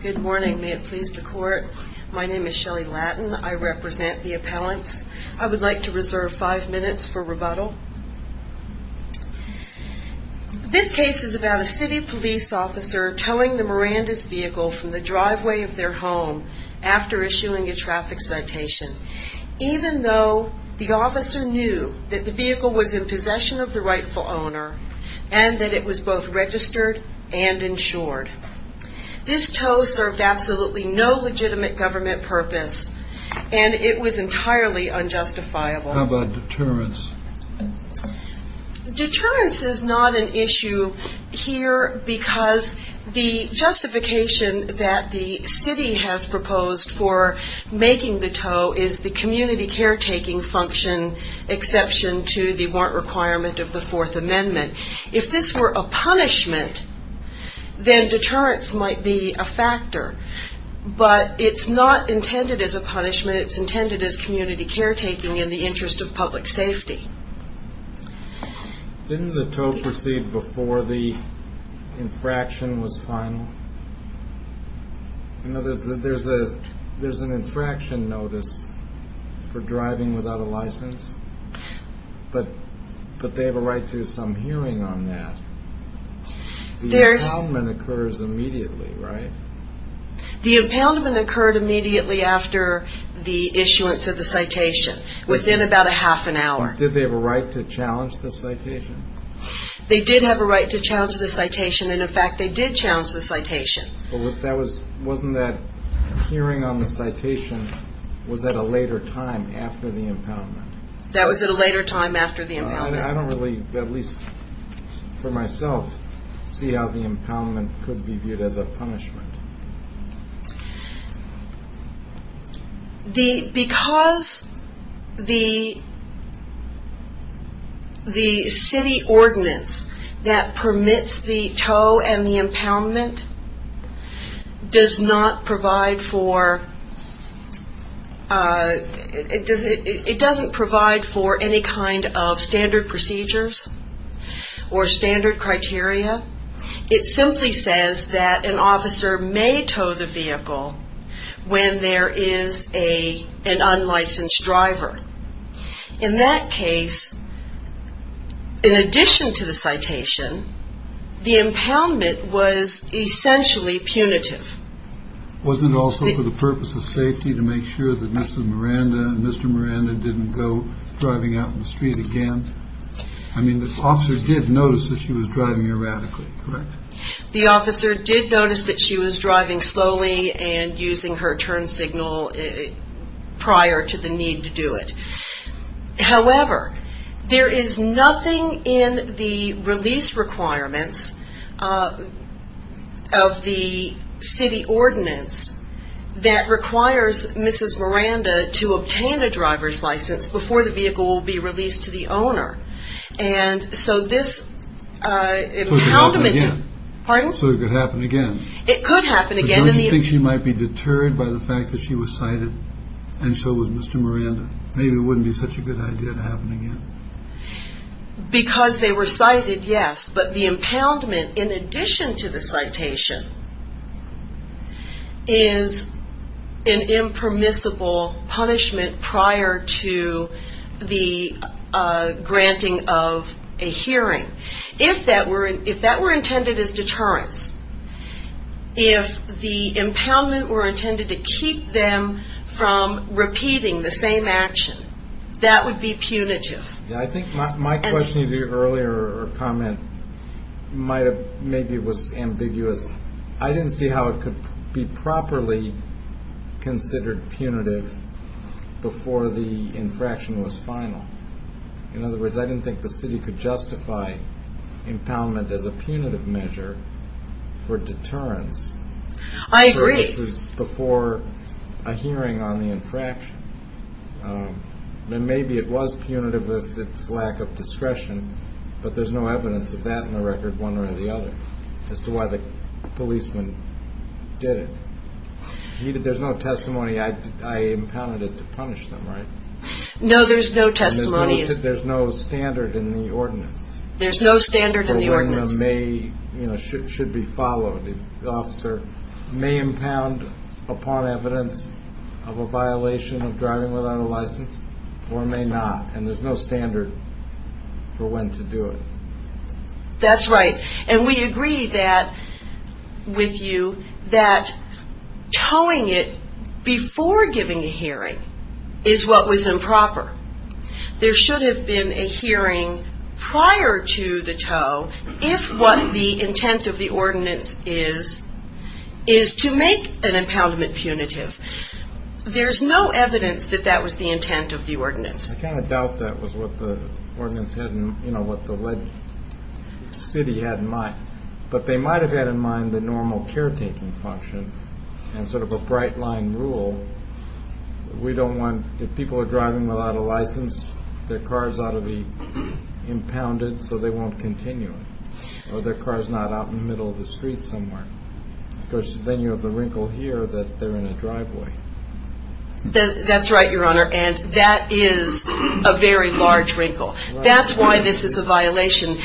Good morning, may it please the court. My name is Shelly Lattin. I represent the appellants. I would like to reserve five minutes for rebuttal. This case is about a city police officer towing the Miranda's vehicle from the driveway of their home after issuing a traffic citation. Even though the officer knew that the vehicle was in possession of the rightful owner and that it was both registered and insured. This tow served absolutely no legitimate government purpose and it was entirely unjustifiable. How about deterrence? Deterrence is not an issue here because the justification that the city has proposed for the warrant requirement of the fourth amendment. If this were a punishment, then deterrence might be a factor. But it's not intended as a punishment, it's intended as community care taking in the interest of public safety. Didn't the tow proceed before the infraction was final? There's an infraction notice for that. But they have a right to some hearing on that. The impoundment occurs immediately, right? The impoundment occurred immediately after the issuance of the citation, within about a half an hour. Did they have a right to challenge the citation? They did have a right to challenge the citation and in fact they did challenge the citation. But wasn't that hearing on the citation was at a later time after the impoundment? That was at a later time after the impoundment. I don't really, at least for myself, see how the impoundment could be viewed as a punishment. Because the city ordinance that permits the tow and the impoundment does not provide for any kind of standard procedures or standard criteria. It simply says that an officer may tow the vehicle when there is an unlicensed driver. In that case, in addition to the citation, the impoundment was essentially punitive. Wasn't it also for the purpose of safety to make sure that Mr. Miranda didn't go driving out in the street again? I mean the officer did notice that she was driving erratically, correct? The officer did notice that she was driving slowly and using her turn signal prior to the need to do it. However, there is nothing in the release requirements of the city ordinance that requires Mrs. Miranda to obtain a driver's license before the vehicle will be released to the owner. So it could happen again? It could happen again. Don't you think she might be deterred by the fact that she was cited and so was Mr. Miranda? Maybe it wouldn't be such a good idea to have it again. Because they were cited, yes. But the impoundment, in addition to the citation, is an impermissible punishment prior to the granting of a hearing. If that were intended as deterrence, if the same action, that would be punitive. I think my question to you earlier, or comment, maybe was ambiguous. I didn't see how it could be properly considered punitive before the infraction was final. In other words, I didn't think the city could justify impoundment as a punitive measure for deterrence. I agree. If this was before a hearing on the infraction, then maybe it was punitive if it's lack of discretion, but there's no evidence of that in the record, one way or the other, as to why the policeman did it. There's no testimony, I impounded it to punish them, right? No, there's no testimony. There's no standard in the ordinance? There's no standard in the ordinance. The hearing should be followed. The officer may impound upon evidence of a violation of driving without a license, or may not. There's no standard for when to do it. That's right. We agree with you that towing it before giving a hearing is what was improper. There should have been a hearing prior to the tow, if what the intent of the ordinance is, is to make an impoundment punitive. There's no evidence that that was the intent of the ordinance. I kind of doubt that was what the ordinance had in mind, what the city had in mind, but they might have had in mind the normal caretaking function, and sort of a bright line rule. We don't want, if people are driving without a license, their cars ought to be impounded so they won't continue it, or their car's not out in the middle of the street somewhere. Because then you have the wrinkle here that they're in a driveway. That's right, Your Honor, and that is a very large wrinkle. That's why this is a violation.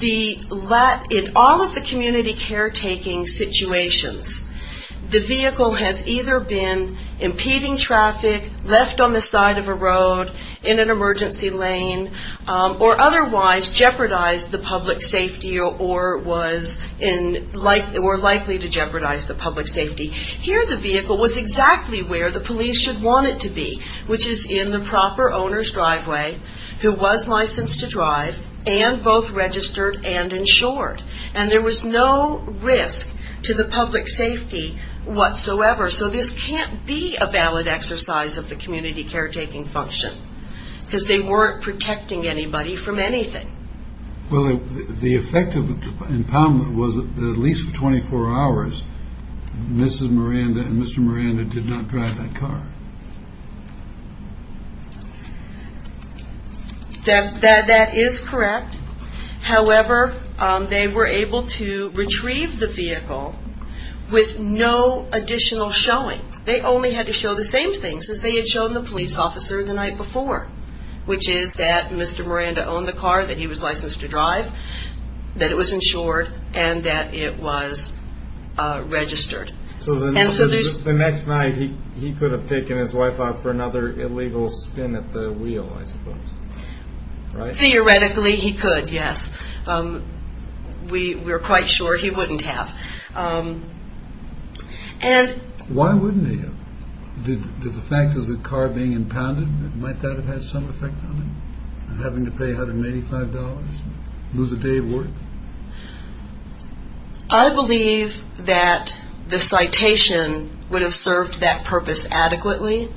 In all of the community caretaking situations, the vehicle has either been impeding traffic, left on the side of a road, in an emergency lane, or otherwise jeopardized the public safety, or was likely to jeopardize the public safety. Here the vehicle was exactly where the police should want it to be, which is in the proper owner's driveway, who was licensed to drive, and both registered and insured, and there was no risk to the public safety whatsoever. So this can't be a valid exercise of the community caretaking function, because they weren't protecting anybody from anything. Well, the effect of the impoundment was that at least for 24 hours, Mrs. Miranda and Mr. Miranda did not drive that car. That is correct. However, they were able to retrieve the vehicle with no additional showing. They only had to show the same things as they had shown the police officer the night before, which is that Mr. Miranda owned the car, that he was licensed to drive, that it was insured, and that it was registered. So the next night he could have taken his wife out for another illegal spin at the wheel, I suppose, right? Theoretically, he could, yes. We were quite sure he wouldn't have. Why wouldn't he have? Did the fact of the car being impounded, might that have had some effect on him? Having to pay $185, lose a day of work? I believe that the citation would have served that purpose adequately.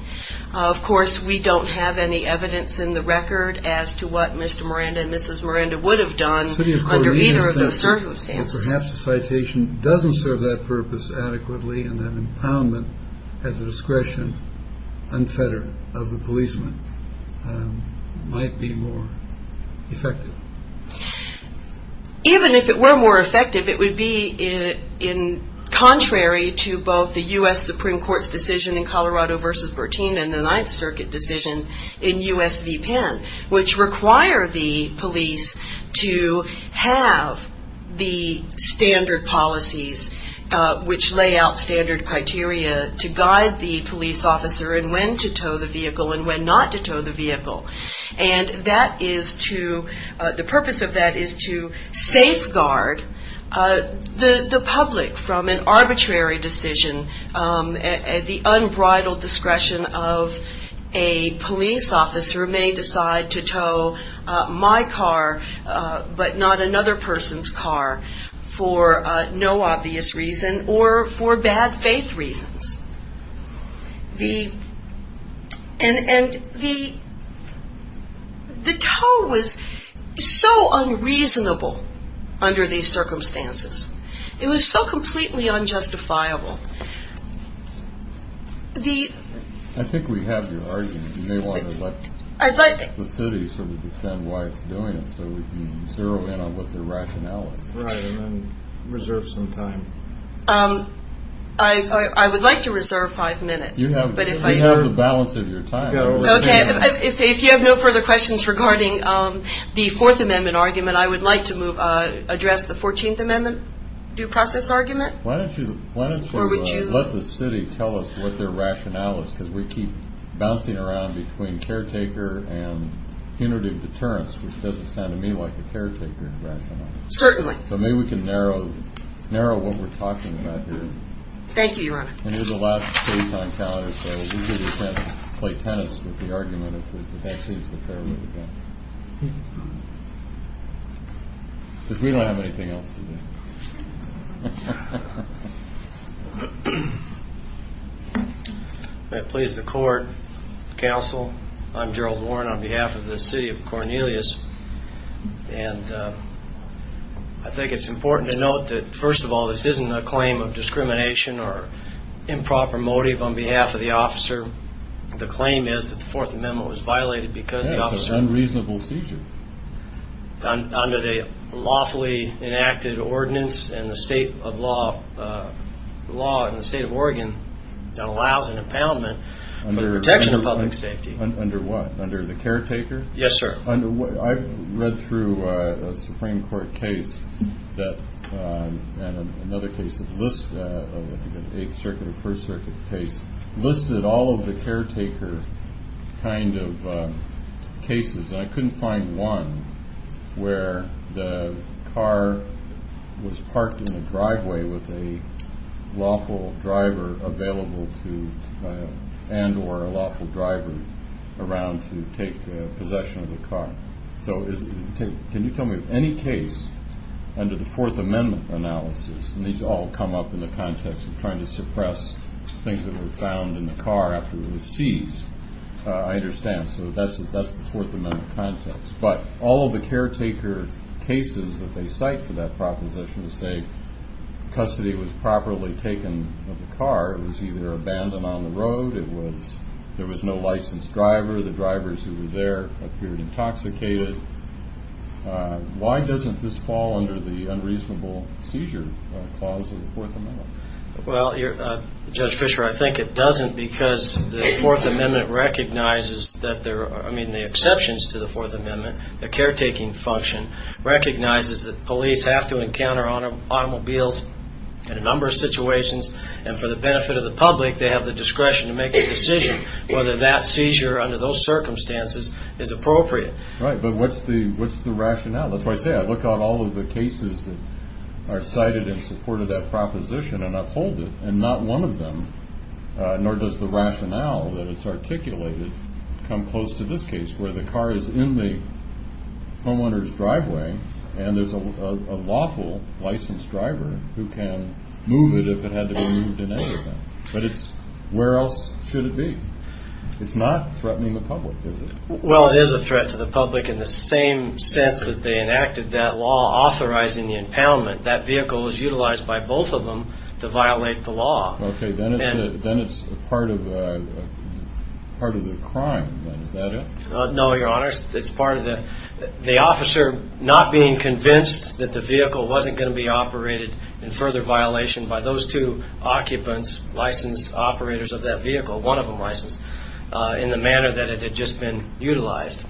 Of course, we don't have any evidence in the record as to what Mr. Miranda and Mrs. Miranda would have done under either of those circumstances. Perhaps the citation doesn't serve that purpose adequately, and that impoundment has a discretion unfettered of the policeman, might be more effective. Even if it were more effective, it would be contrary to both the U.S. Supreme Court's decision in Colorado v. Bertin and the Ninth Circuit decision in U.S. v. Penn, which require the police to have the standard policies which lay out standard criteria to guide the police officer in when to tow the vehicle and when not to tow the vehicle. And that is to, the purpose of that is to safeguard the public from an arbitrary decision, the unbridled discretion of a police officer may decide to tow my car but not another person's car for no obvious reason or for bad faith reasons. And the tow was so unreasonable under these circumstances. It was so completely unjustifiable. I think we have your argument. You may want to let the city sort of defend why it's doing it so we can zero in on what their rationale is. Right, and then reserve some time. I would like to reserve five minutes. You have the balance of your time. Okay, if you have no further questions regarding the Fourth Amendment argument, I would like to address the Fourteenth Amendment due process argument. Why don't you let the city tell us what their rationale is because we keep bouncing around between caretaker and punitive deterrence, which doesn't sound to me like a caretaker rationale. Certainly. So maybe we can narrow what we're talking about here. Thank you, Your Honor. And this is the last case on calendar, so we can play tennis with the argument if it actually is the fair way to go. Because we don't have anything else to do. May it please the court, counsel, I'm Gerald Warren on behalf of the city of Cornelius. And I think it's important to note that, first of all, this isn't a claim of discrimination or improper motive on behalf of the officer. The claim is that the Fourth Amendment was violated because the officer… That's an unreasonable seizure. Under the lawfully enacted ordinance and the state of law, the law in the state of Oregon that allows an impoundment for the protection of public safety. Under what? Under the caretaker? Yes, sir. Under what? I've read through a Supreme Court case that, and another case that lists, I think an Eighth Circuit or First Circuit case, listed all of the caretaker kind of cases, and I couldn't find one where the car was parked in the driveway with a lawful driver available to, and or a lawful driver around to take possession of the car. So can you tell me of any case under the Fourth Amendment analysis, and these all come up in the context of trying to suppress things that were found in the car after it was seized. I understand. So that's the Fourth Amendment context. But all of the caretaker cases that they cite for that proposition say custody was properly taken of the car. It was either abandoned on the road. It was, there was no licensed driver. The drivers who were there appeared intoxicated. Why doesn't this fall under the unreasonable seizure clause of the Fourth Amendment? Well, Judge Fischer, I think it doesn't because the Fourth Amendment recognizes that there are, I mean the exceptions to the Fourth Amendment, the caretaking function, recognizes that police have to encounter automobiles in a number of situations, and for the benefit of the public, they have the discretion to make a decision whether that seizure under those circumstances is appropriate. Right, but what's the rationale? That's why I say I look at all of the cases that are cited in support of that proposition and uphold it, and not one of them, nor does the rationale that it's articulated, come close to this case where the car is in the homeowner's driveway, and there's a lawful licensed driver who can move it if it had to be moved in any event. But it's, where else should it be? It's not threatening the public, is it? Well, it is a threat to the public in the same sense that they enacted that law authorizing the impoundment. That vehicle was utilized by both of them to violate the law. Okay, then it's part of the crime then, is that it? No, Your Honor. It's part of the officer not being convinced that the vehicle wasn't going to be operated in further violation by those two occupants, licensed operators of that vehicle, one of them licensed, in the manner that it had just been utilized.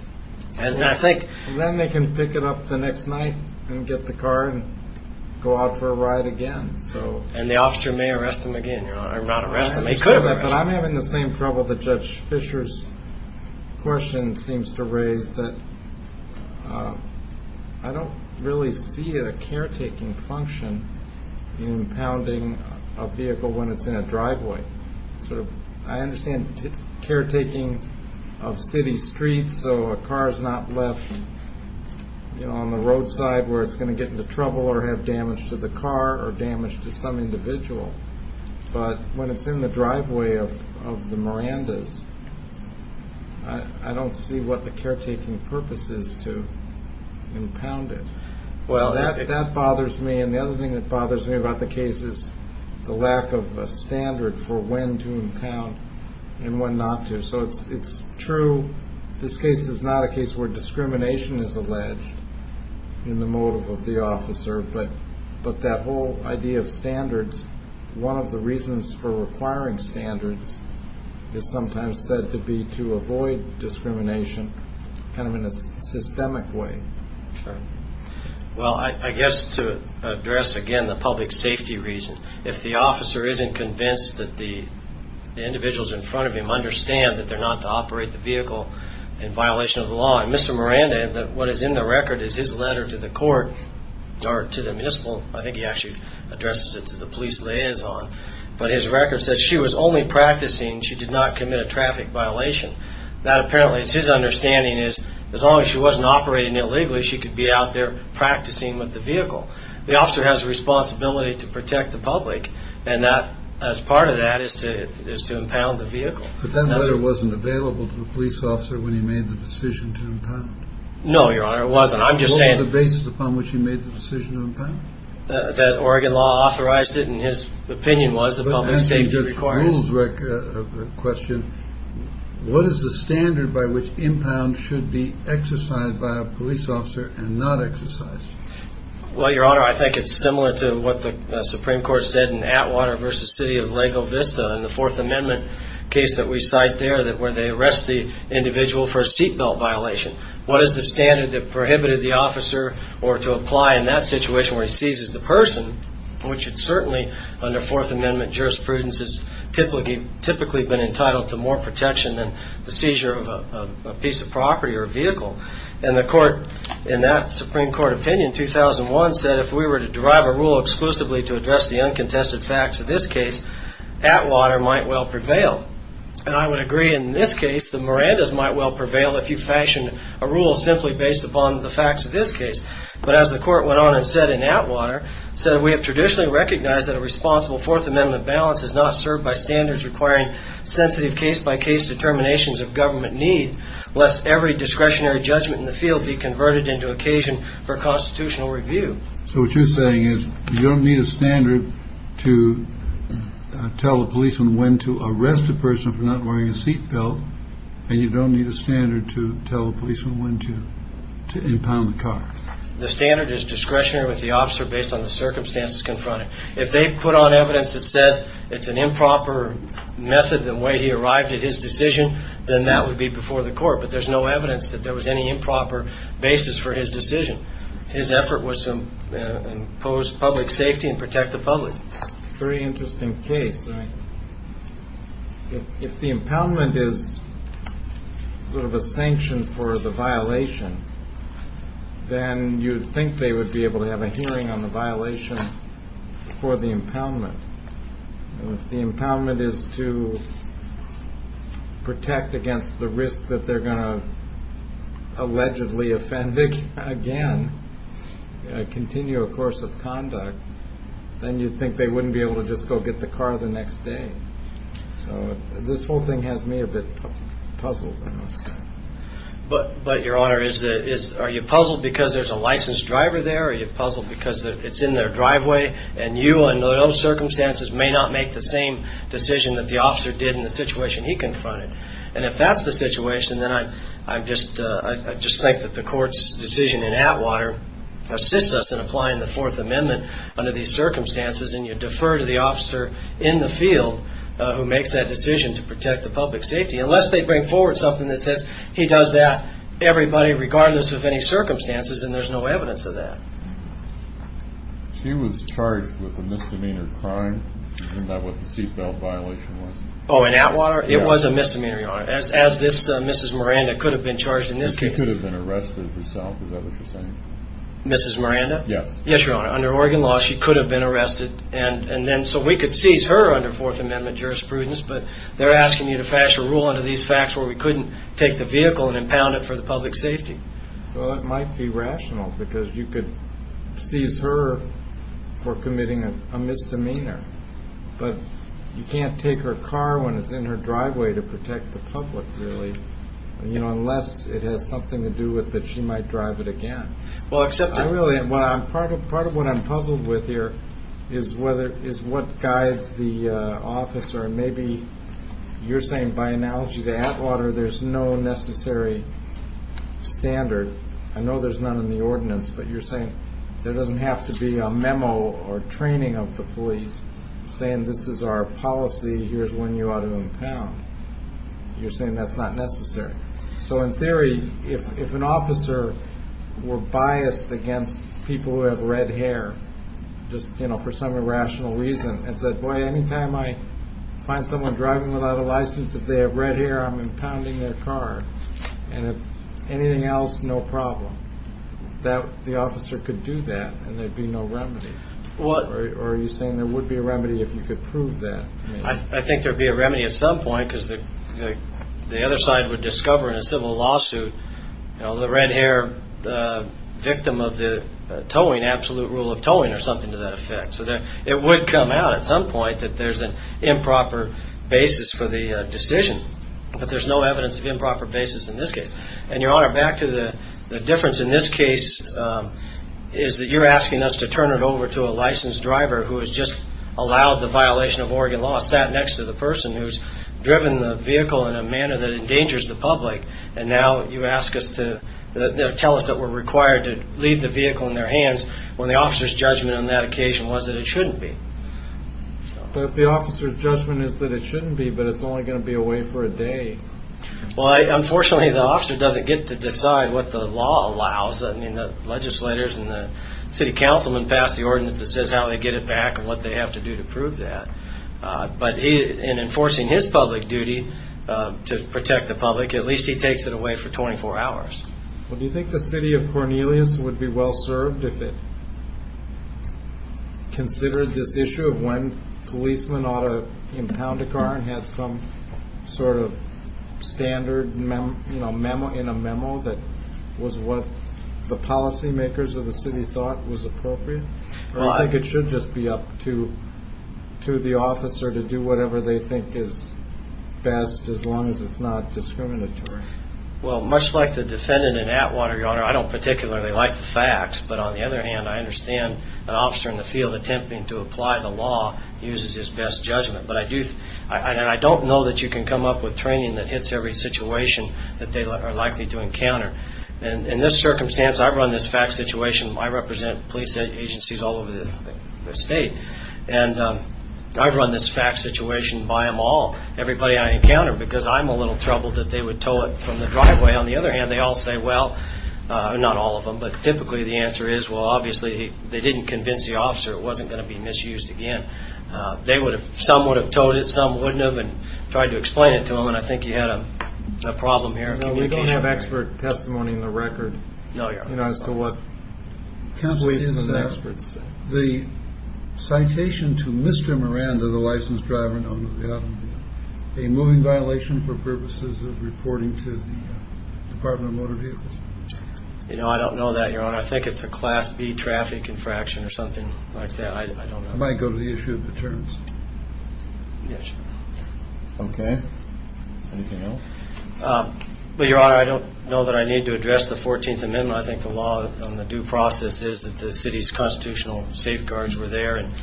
Then they can pick it up the next night and get the car and go out for a ride again. And the officer may arrest them again, Your Honor. But I'm having the same trouble that Judge Fischer's question seems to raise, that I don't really see a caretaking function in impounding a vehicle when it's in a driveway. I understand caretaking of city streets so a car is not left on the roadside where it's going to get into trouble or have damage to the car or damage to some individual. But when it's in the driveway of the Mirandas, I don't see what the caretaking purpose is to impound it. Well, that bothers me, and the other thing that bothers me about the case is the lack of a standard for when to impound and when not to. So it's true, this case is not a case where discrimination is alleged in the motive of the officer, but that whole idea of standards, one of the reasons for requiring standards, is sometimes said to be to avoid discrimination kind of in a systemic way. Well, I guess to address again the public safety reason, if the officer isn't convinced that the individuals in front of him understand that they're not to operate the vehicle in violation of the law, Mr. Miranda, what is in the record is his letter to the court, or to the municipal, I think he actually addresses it to the police liaison, but his record says she was only practicing, she did not commit a traffic violation. That apparently is his understanding is as long as she wasn't operating illegally, she could be out there practicing with the vehicle. The officer has a responsibility to protect the public, and as part of that is to impound the vehicle. But that letter wasn't available to the police officer when he made the decision to impound. No, Your Honor, it wasn't. I'm just saying. What was the basis upon which he made the decision to impound? That Oregon law authorized it, and his opinion was that public safety required it. But as to the rules question, what is the standard by which impound should be exercised by a police officer and not exercised? Well, Your Honor, I think it's similar to what the Supreme Court said in Atwater v. City of Lago Vista in the Fourth Amendment case that we cite there, where they arrest the individual for a seat belt violation. What is the standard that prohibited the officer or to apply in that situation where he seizes the person, which certainly under Fourth Amendment jurisprudence has typically been entitled to more protection than the seizure of a piece of property or a vehicle. And the court, in that Supreme Court opinion, said if we were to derive a rule exclusively to address the uncontested facts of this case, Atwater might well prevail. And I would agree in this case the Mirandas might well prevail if you fashioned a rule simply based upon the facts of this case. But as the court went on and said in Atwater, So what you're saying is you don't need a standard to tell a policeman when to arrest a person for not wearing a seat belt, and you don't need a standard to tell a policeman when to impound the car. The standard is discretionary with the officer based on the circumstances confronted. If they put on evidence that said it's an improper method, the way he arrived at his decision, then that would be before the court. But there's no evidence that there was any improper basis for his decision. His effort was to impose public safety and protect the public. It's a very interesting case. If the impoundment is sort of a sanction for the violation, then you'd think they would be able to have a hearing on the violation for the impoundment. If the impoundment is to protect against the risk that they're going to allegedly offend again, continue a course of conduct, then you'd think they wouldn't be able to just go get the car the next day. So this whole thing has me a bit puzzled, I must say. But, Your Honor, are you puzzled because there's a licensed driver there? Are you puzzled because it's in their driveway and you under those circumstances may not make the same decision that the officer did in the situation he confronted? And if that's the situation, then I just think that the court's decision in Atwater assists us in applying the Fourth Amendment under these circumstances, and you defer to the officer in the field who makes that decision to protect the public's safety. Unless they bring forward something that says he does that to everybody regardless of any circumstances, then there's no evidence of that. She was charged with a misdemeanor crime. Isn't that what the seat belt violation was? Oh, in Atwater? It was a misdemeanor, Your Honor. As this Mrs. Miranda could have been charged in this case. She could have been arrested herself. Is that what you're saying? Mrs. Miranda? Yes. Yes, Your Honor. Under Oregon law, she could have been arrested. So we could seize her under Fourth Amendment jurisprudence, but they're asking you to pass a rule under these facts where we couldn't take the vehicle and impound it for the public's safety. Well, that might be rational because you could seize her for committing a misdemeanor, but you can't take her car when it's in her driveway to protect the public, really, unless it has something to do with that she might drive it again. Well, except that... Really, part of what I'm puzzled with here is what guides the officer, and maybe you're saying by analogy to Atwater, there's no necessary standard. I know there's none in the ordinance, but you're saying there doesn't have to be a memo or training of the police saying this is our policy, here's when you ought to impound. You're saying that's not necessary. So in theory, if an officer were biased against people who have red hair, just for some irrational reason, and said, boy, any time I find someone driving without a license, if they have red hair, I'm impounding their car, and if anything else, no problem, the officer could do that and there'd be no remedy. Or are you saying there would be a remedy if you could prove that? I think there'd be a remedy at some point because the other side would discover in a civil lawsuit, the red hair victim of the towing, absolute rule of towing or something to that effect. So it would come out at some point that there's an improper basis for the decision, but there's no evidence of improper basis in this case. And, Your Honor, back to the difference in this case is that you're asking us to turn it over to a licensed driver who has just allowed the violation of Oregon law, sat next to the person who's driven the vehicle in a manner that endangers the public, and now you ask us to tell us that we're required to leave the vehicle in their hands when the officer's judgment on that occasion was that it shouldn't be. But if the officer's judgment is that it shouldn't be, but it's only going to be away for a day. Well, unfortunately, the officer doesn't get to decide what the law allows. I mean, the legislators and the city councilmen pass the ordinance that says how they get it back and what they have to do to prove that. But in enforcing his public duty to protect the public, at least he takes it away for 24 hours. Well, do you think the city of Cornelius would be well served if it considered this issue of when policemen ought to impound a car and have some sort of standard memo in a memo that was what the policymakers of the city thought was appropriate? Or do you think it should just be up to the officer to do whatever they think is best as long as it's not discriminatory? Well, much like the defendant in Atwater, Your Honor, I don't particularly like the facts. But on the other hand, I understand an officer in the field attempting to apply the law uses his best judgment. And I don't know that you can come up with training that hits every situation that they are likely to encounter. In this circumstance, I've run this fact situation. I represent police agencies all over the state. And I've run this fact situation by them all, everybody I encounter, because I'm a little troubled that they would tow it from the driveway. On the other hand, they all say, well, not all of them, but typically the answer is, well, obviously they didn't convince the officer it wasn't going to be misused again. Some would have towed it, some wouldn't have, and tried to explain it to them. And I think you had a problem here. We don't have expert testimony in the record as to what police and experts say. The citation to Mr. Miranda, the licensed driver, a moving violation for purposes of reporting to the Department of Motor Vehicles. You know, I don't know that, Your Honor. I think it's a Class B traffic infraction or something like that. I don't know. I might go to the issue of the terms. Yes, Your Honor. Okay. Anything else? Well, Your Honor, I don't know that I need to address the 14th Amendment. I think the law on the due process is that the city's constitutional safeguards were there. And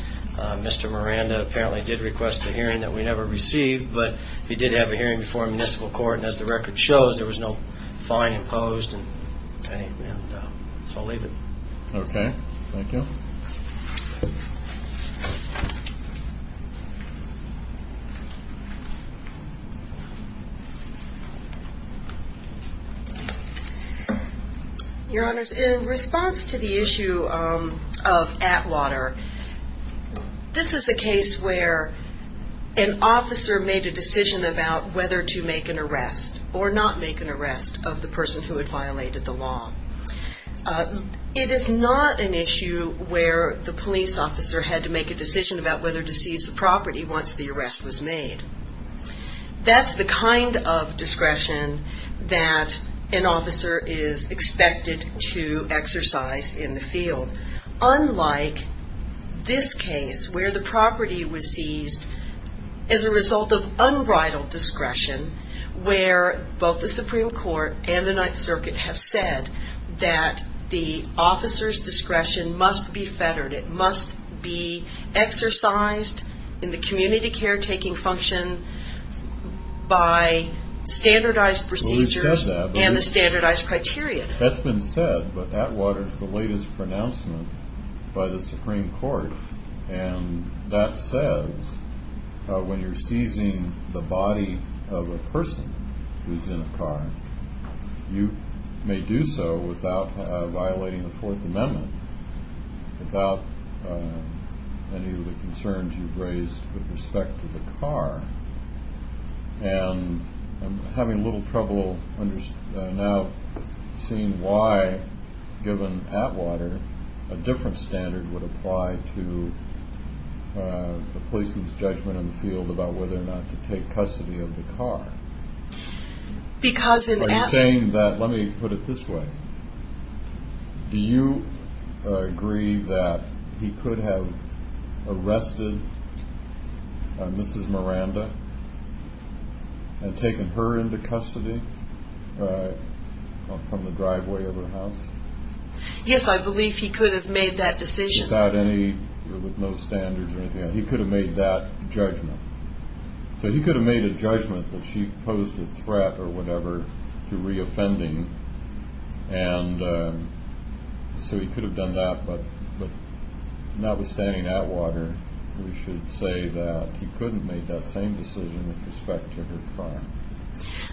Mr. Miranda apparently did request a hearing that we never received. But he did have a hearing before a municipal court. And as the record shows, there was no fine imposed. And so I'll leave it. Okay. Thank you. Your Honor, in response to the issue of Atwater, this is a case where an officer made a decision about whether to make an arrest or not make an arrest of the person who had violated the law. It is not an issue where the police officer had to make a decision about whether to seize the property once the arrest was made. That's the kind of discretion that an officer is expected to exercise in the field. Unlike this case where the property was seized as a result of unbridled discretion, where both the Supreme Court and the Ninth Circuit have said that the officer's discretion must be fettered, it must be exercised in the community caretaking function by standardized procedures and the standardized criteria. That's been said, but Atwater is the latest pronouncement by the Supreme Court. And that says when you're seizing the body of a person who's in a car, you may do so without violating the Fourth Amendment, without any of the concerns you've raised with respect to the car. And I'm having a little trouble now seeing why, given Atwater, a different standard would apply to the policeman's judgment in the field about whether or not to take custody of the car. Are you saying that, let me put it this way, do you agree that he could have arrested Mrs. Miranda and taken her into custody from the driveway of her house? Yes, I believe he could have made that decision. Without any, with no standards or anything, he could have made that judgment. So he could have made a judgment that she posed a threat or whatever to re-offending, and so he could have done that, but notwithstanding Atwater, we should say that he couldn't have made that same decision with respect to her car.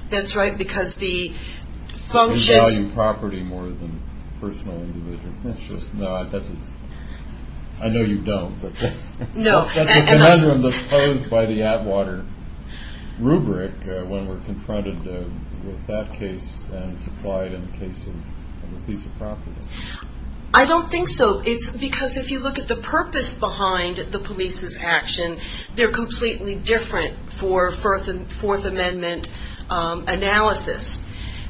That's right, because the function... We value property more than personal individuals. I know you don't, but that's a conundrum that's posed by the Atwater rubric when we're confronted with that case and supplied in the case of a piece of property. I don't think so. It's because if you look at the purpose behind the police's action, they're completely different for Fourth Amendment analysis.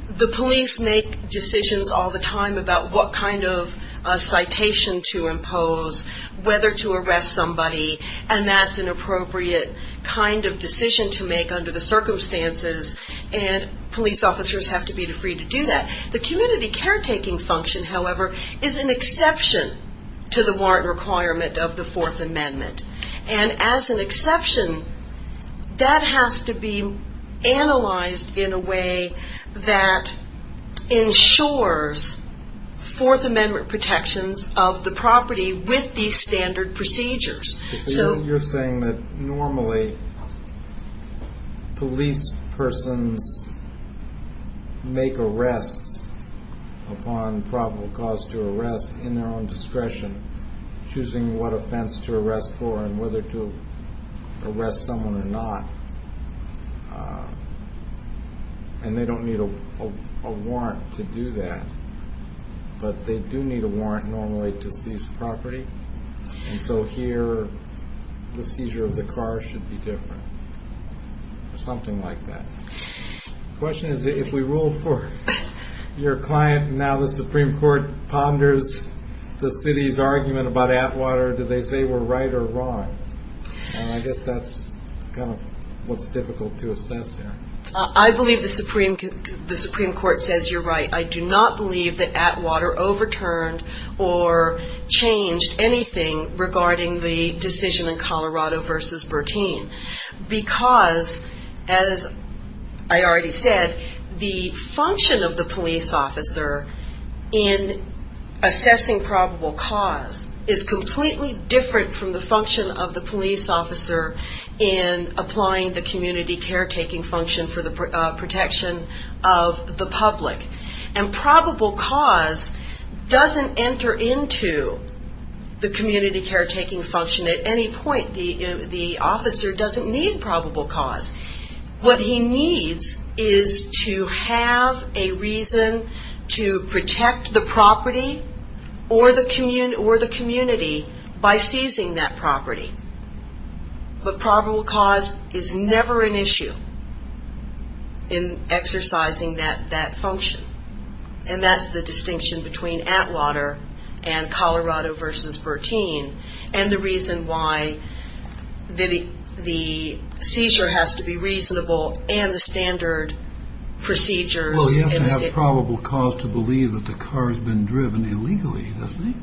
The police make decisions all the time about what kind of citation to impose, whether to arrest somebody, and that's an appropriate kind of decision to make under the circumstances, and police officers have to be free to do that. The community caretaking function, however, is an exception to the warrant requirement of the Fourth Amendment, and as an exception, that has to be analyzed in a way that ensures Fourth Amendment protections of the property with these standard procedures. So you're saying that normally police persons make arrests upon probable cause to arrest in their own discretion, choosing what offense to arrest for and whether to arrest someone or not, and they don't need a warrant to do that, but they do need a warrant normally to seize property, and so here the seizure of the car should be different or something like that. The question is if we rule for your client, and now the Supreme Court ponders the city's argument about Atwater, do they say we're right or wrong? I guess that's kind of what's difficult to assess here. I believe the Supreme Court says you're right. I do not believe that Atwater overturned or changed anything regarding the decision in Colorado v. Bertine because, as I already said, the function of the police officer in assessing probable cause is completely different from the function of the police officer in applying the community caretaking function for the protection of the public, and probable cause doesn't enter into the community caretaking function at any point. The officer doesn't need probable cause. What he needs is to have a reason to protect the property or the community by seizing that property, but probable cause is never an issue in exercising that function, and that's the distinction between Atwater and Colorado v. Bertine and the reason why the seizure has to be reasonable and the standard procedures in the state... Well, you have to have probable cause to believe that the car has been driven illegally, doesn't he?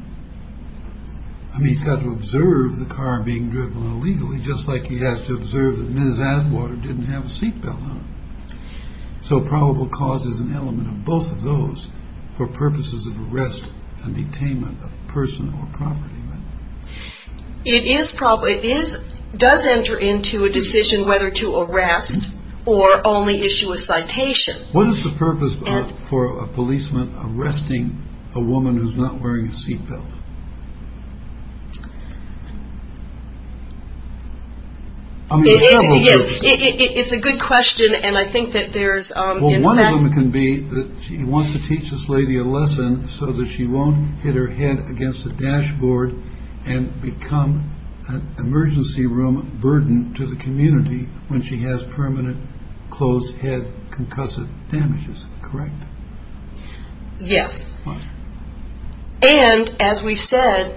I mean, he's got to observe the car being driven illegally, just like he has to observe that Ms. Atwater didn't have a seatbelt on. So probable cause is an element of both of those for purposes of arrest and detainment of a person or property, right? It is probable. It does enter into a decision whether to arrest or only issue a citation. What is the purpose for a policeman arresting a woman who's not wearing a seatbelt? I mean, there are several purposes. It's a good question, and I think that there's, in fact... One can be that she wants to teach this lady a lesson so that she won't hit her head against the dashboard and become an emergency room burden to the community when she has permanent closed-head concussive damages, correct? Yes. And, as we've said,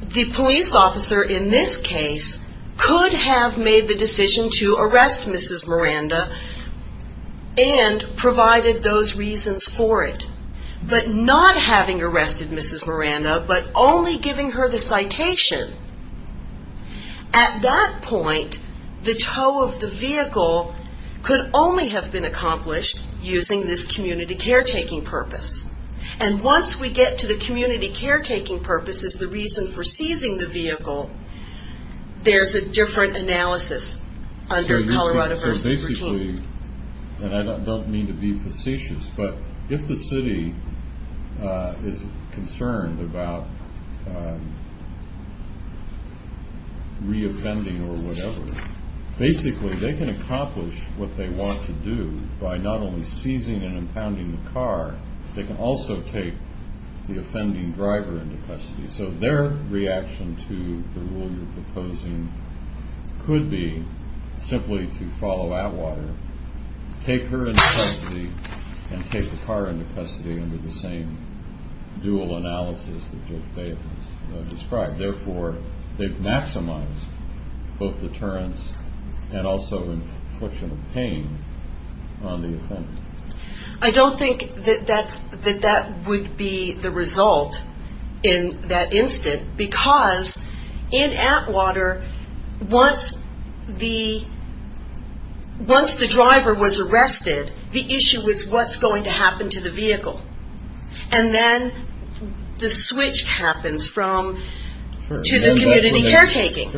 the police officer in this case could have made the decision to arrest Mrs. Miranda and provided those reasons for it, but not having arrested Mrs. Miranda, but only giving her the citation. At that point, the tow of the vehicle could only have been accomplished using this community caretaking purpose. And once we get to the community caretaking purpose as the reason for seizing the vehicle, there's a different analysis under Colorado versus routine. And I don't mean to be facetious, but if the city is concerned about reoffending or whatever, basically they can accomplish what they want to do by not only seizing and impounding the car, they can also take the offending driver into custody. So their reaction to the rule you're proposing could be simply to follow Atwater, take her into custody, and take the car into custody under the same dual analysis that Dave described. Therefore, they've maximized both deterrence I don't think that that would be the result in that instant, because in Atwater, once the driver was arrested, the issue was what's going to happen to the vehicle. And then the switch happens to the community caretaking.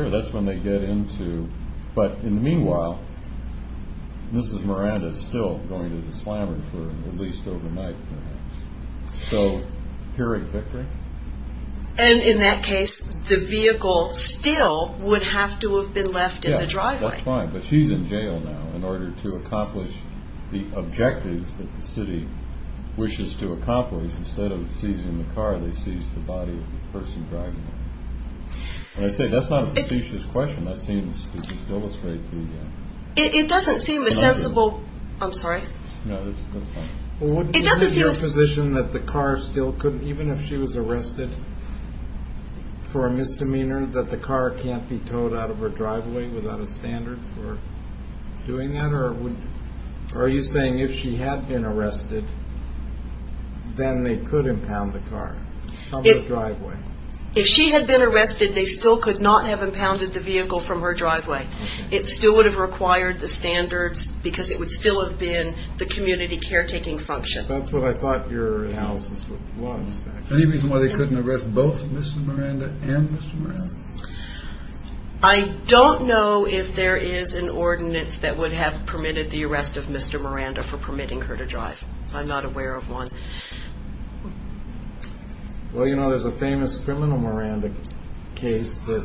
But in the meanwhile, Mrs. Miranda is still going to the slammer for at least overnight, perhaps. So, hearing victory? And in that case, the vehicle still would have to have been left in the driveway. Yeah, that's fine, but she's in jail now in order to accomplish the objectives that the city wishes to accomplish. Instead of seizing the car, they seize the body of the person driving it. And I say that's not a facetious question. That seems to just illustrate who you are. It doesn't seem a sensible... I'm sorry? No, that's fine. Well, wouldn't you be in your position that the car still could, even if she was arrested for a misdemeanor, that the car can't be towed out of her driveway without a standard for doing that? Or are you saying if she had been arrested, then they could impound the car? Out of the driveway. If she had been arrested, they still could not have impounded the vehicle from her driveway. It still would have required the standards because it would still have been the community caretaking function. That's what I thought your analysis was. Any reason why they couldn't arrest both Mrs. Miranda and Mr. Miranda? I don't know if there is an ordinance that would have permitted the arrest of Mr. Miranda for permitting her to drive. I'm not aware of one. Well, you know, there's a famous criminal Miranda case that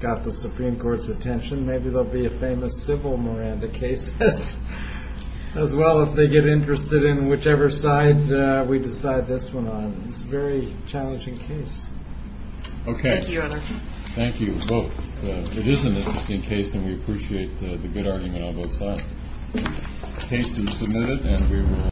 got the Supreme Court's attention. Maybe there will be a famous civil Miranda case as well if they get interested in whichever side we decide this one on. It's a very challenging case. Okay. Thank you, Your Honor. Thank you both. It is an interesting case and we appreciate the good argument on both sides. The case is submitted and we will...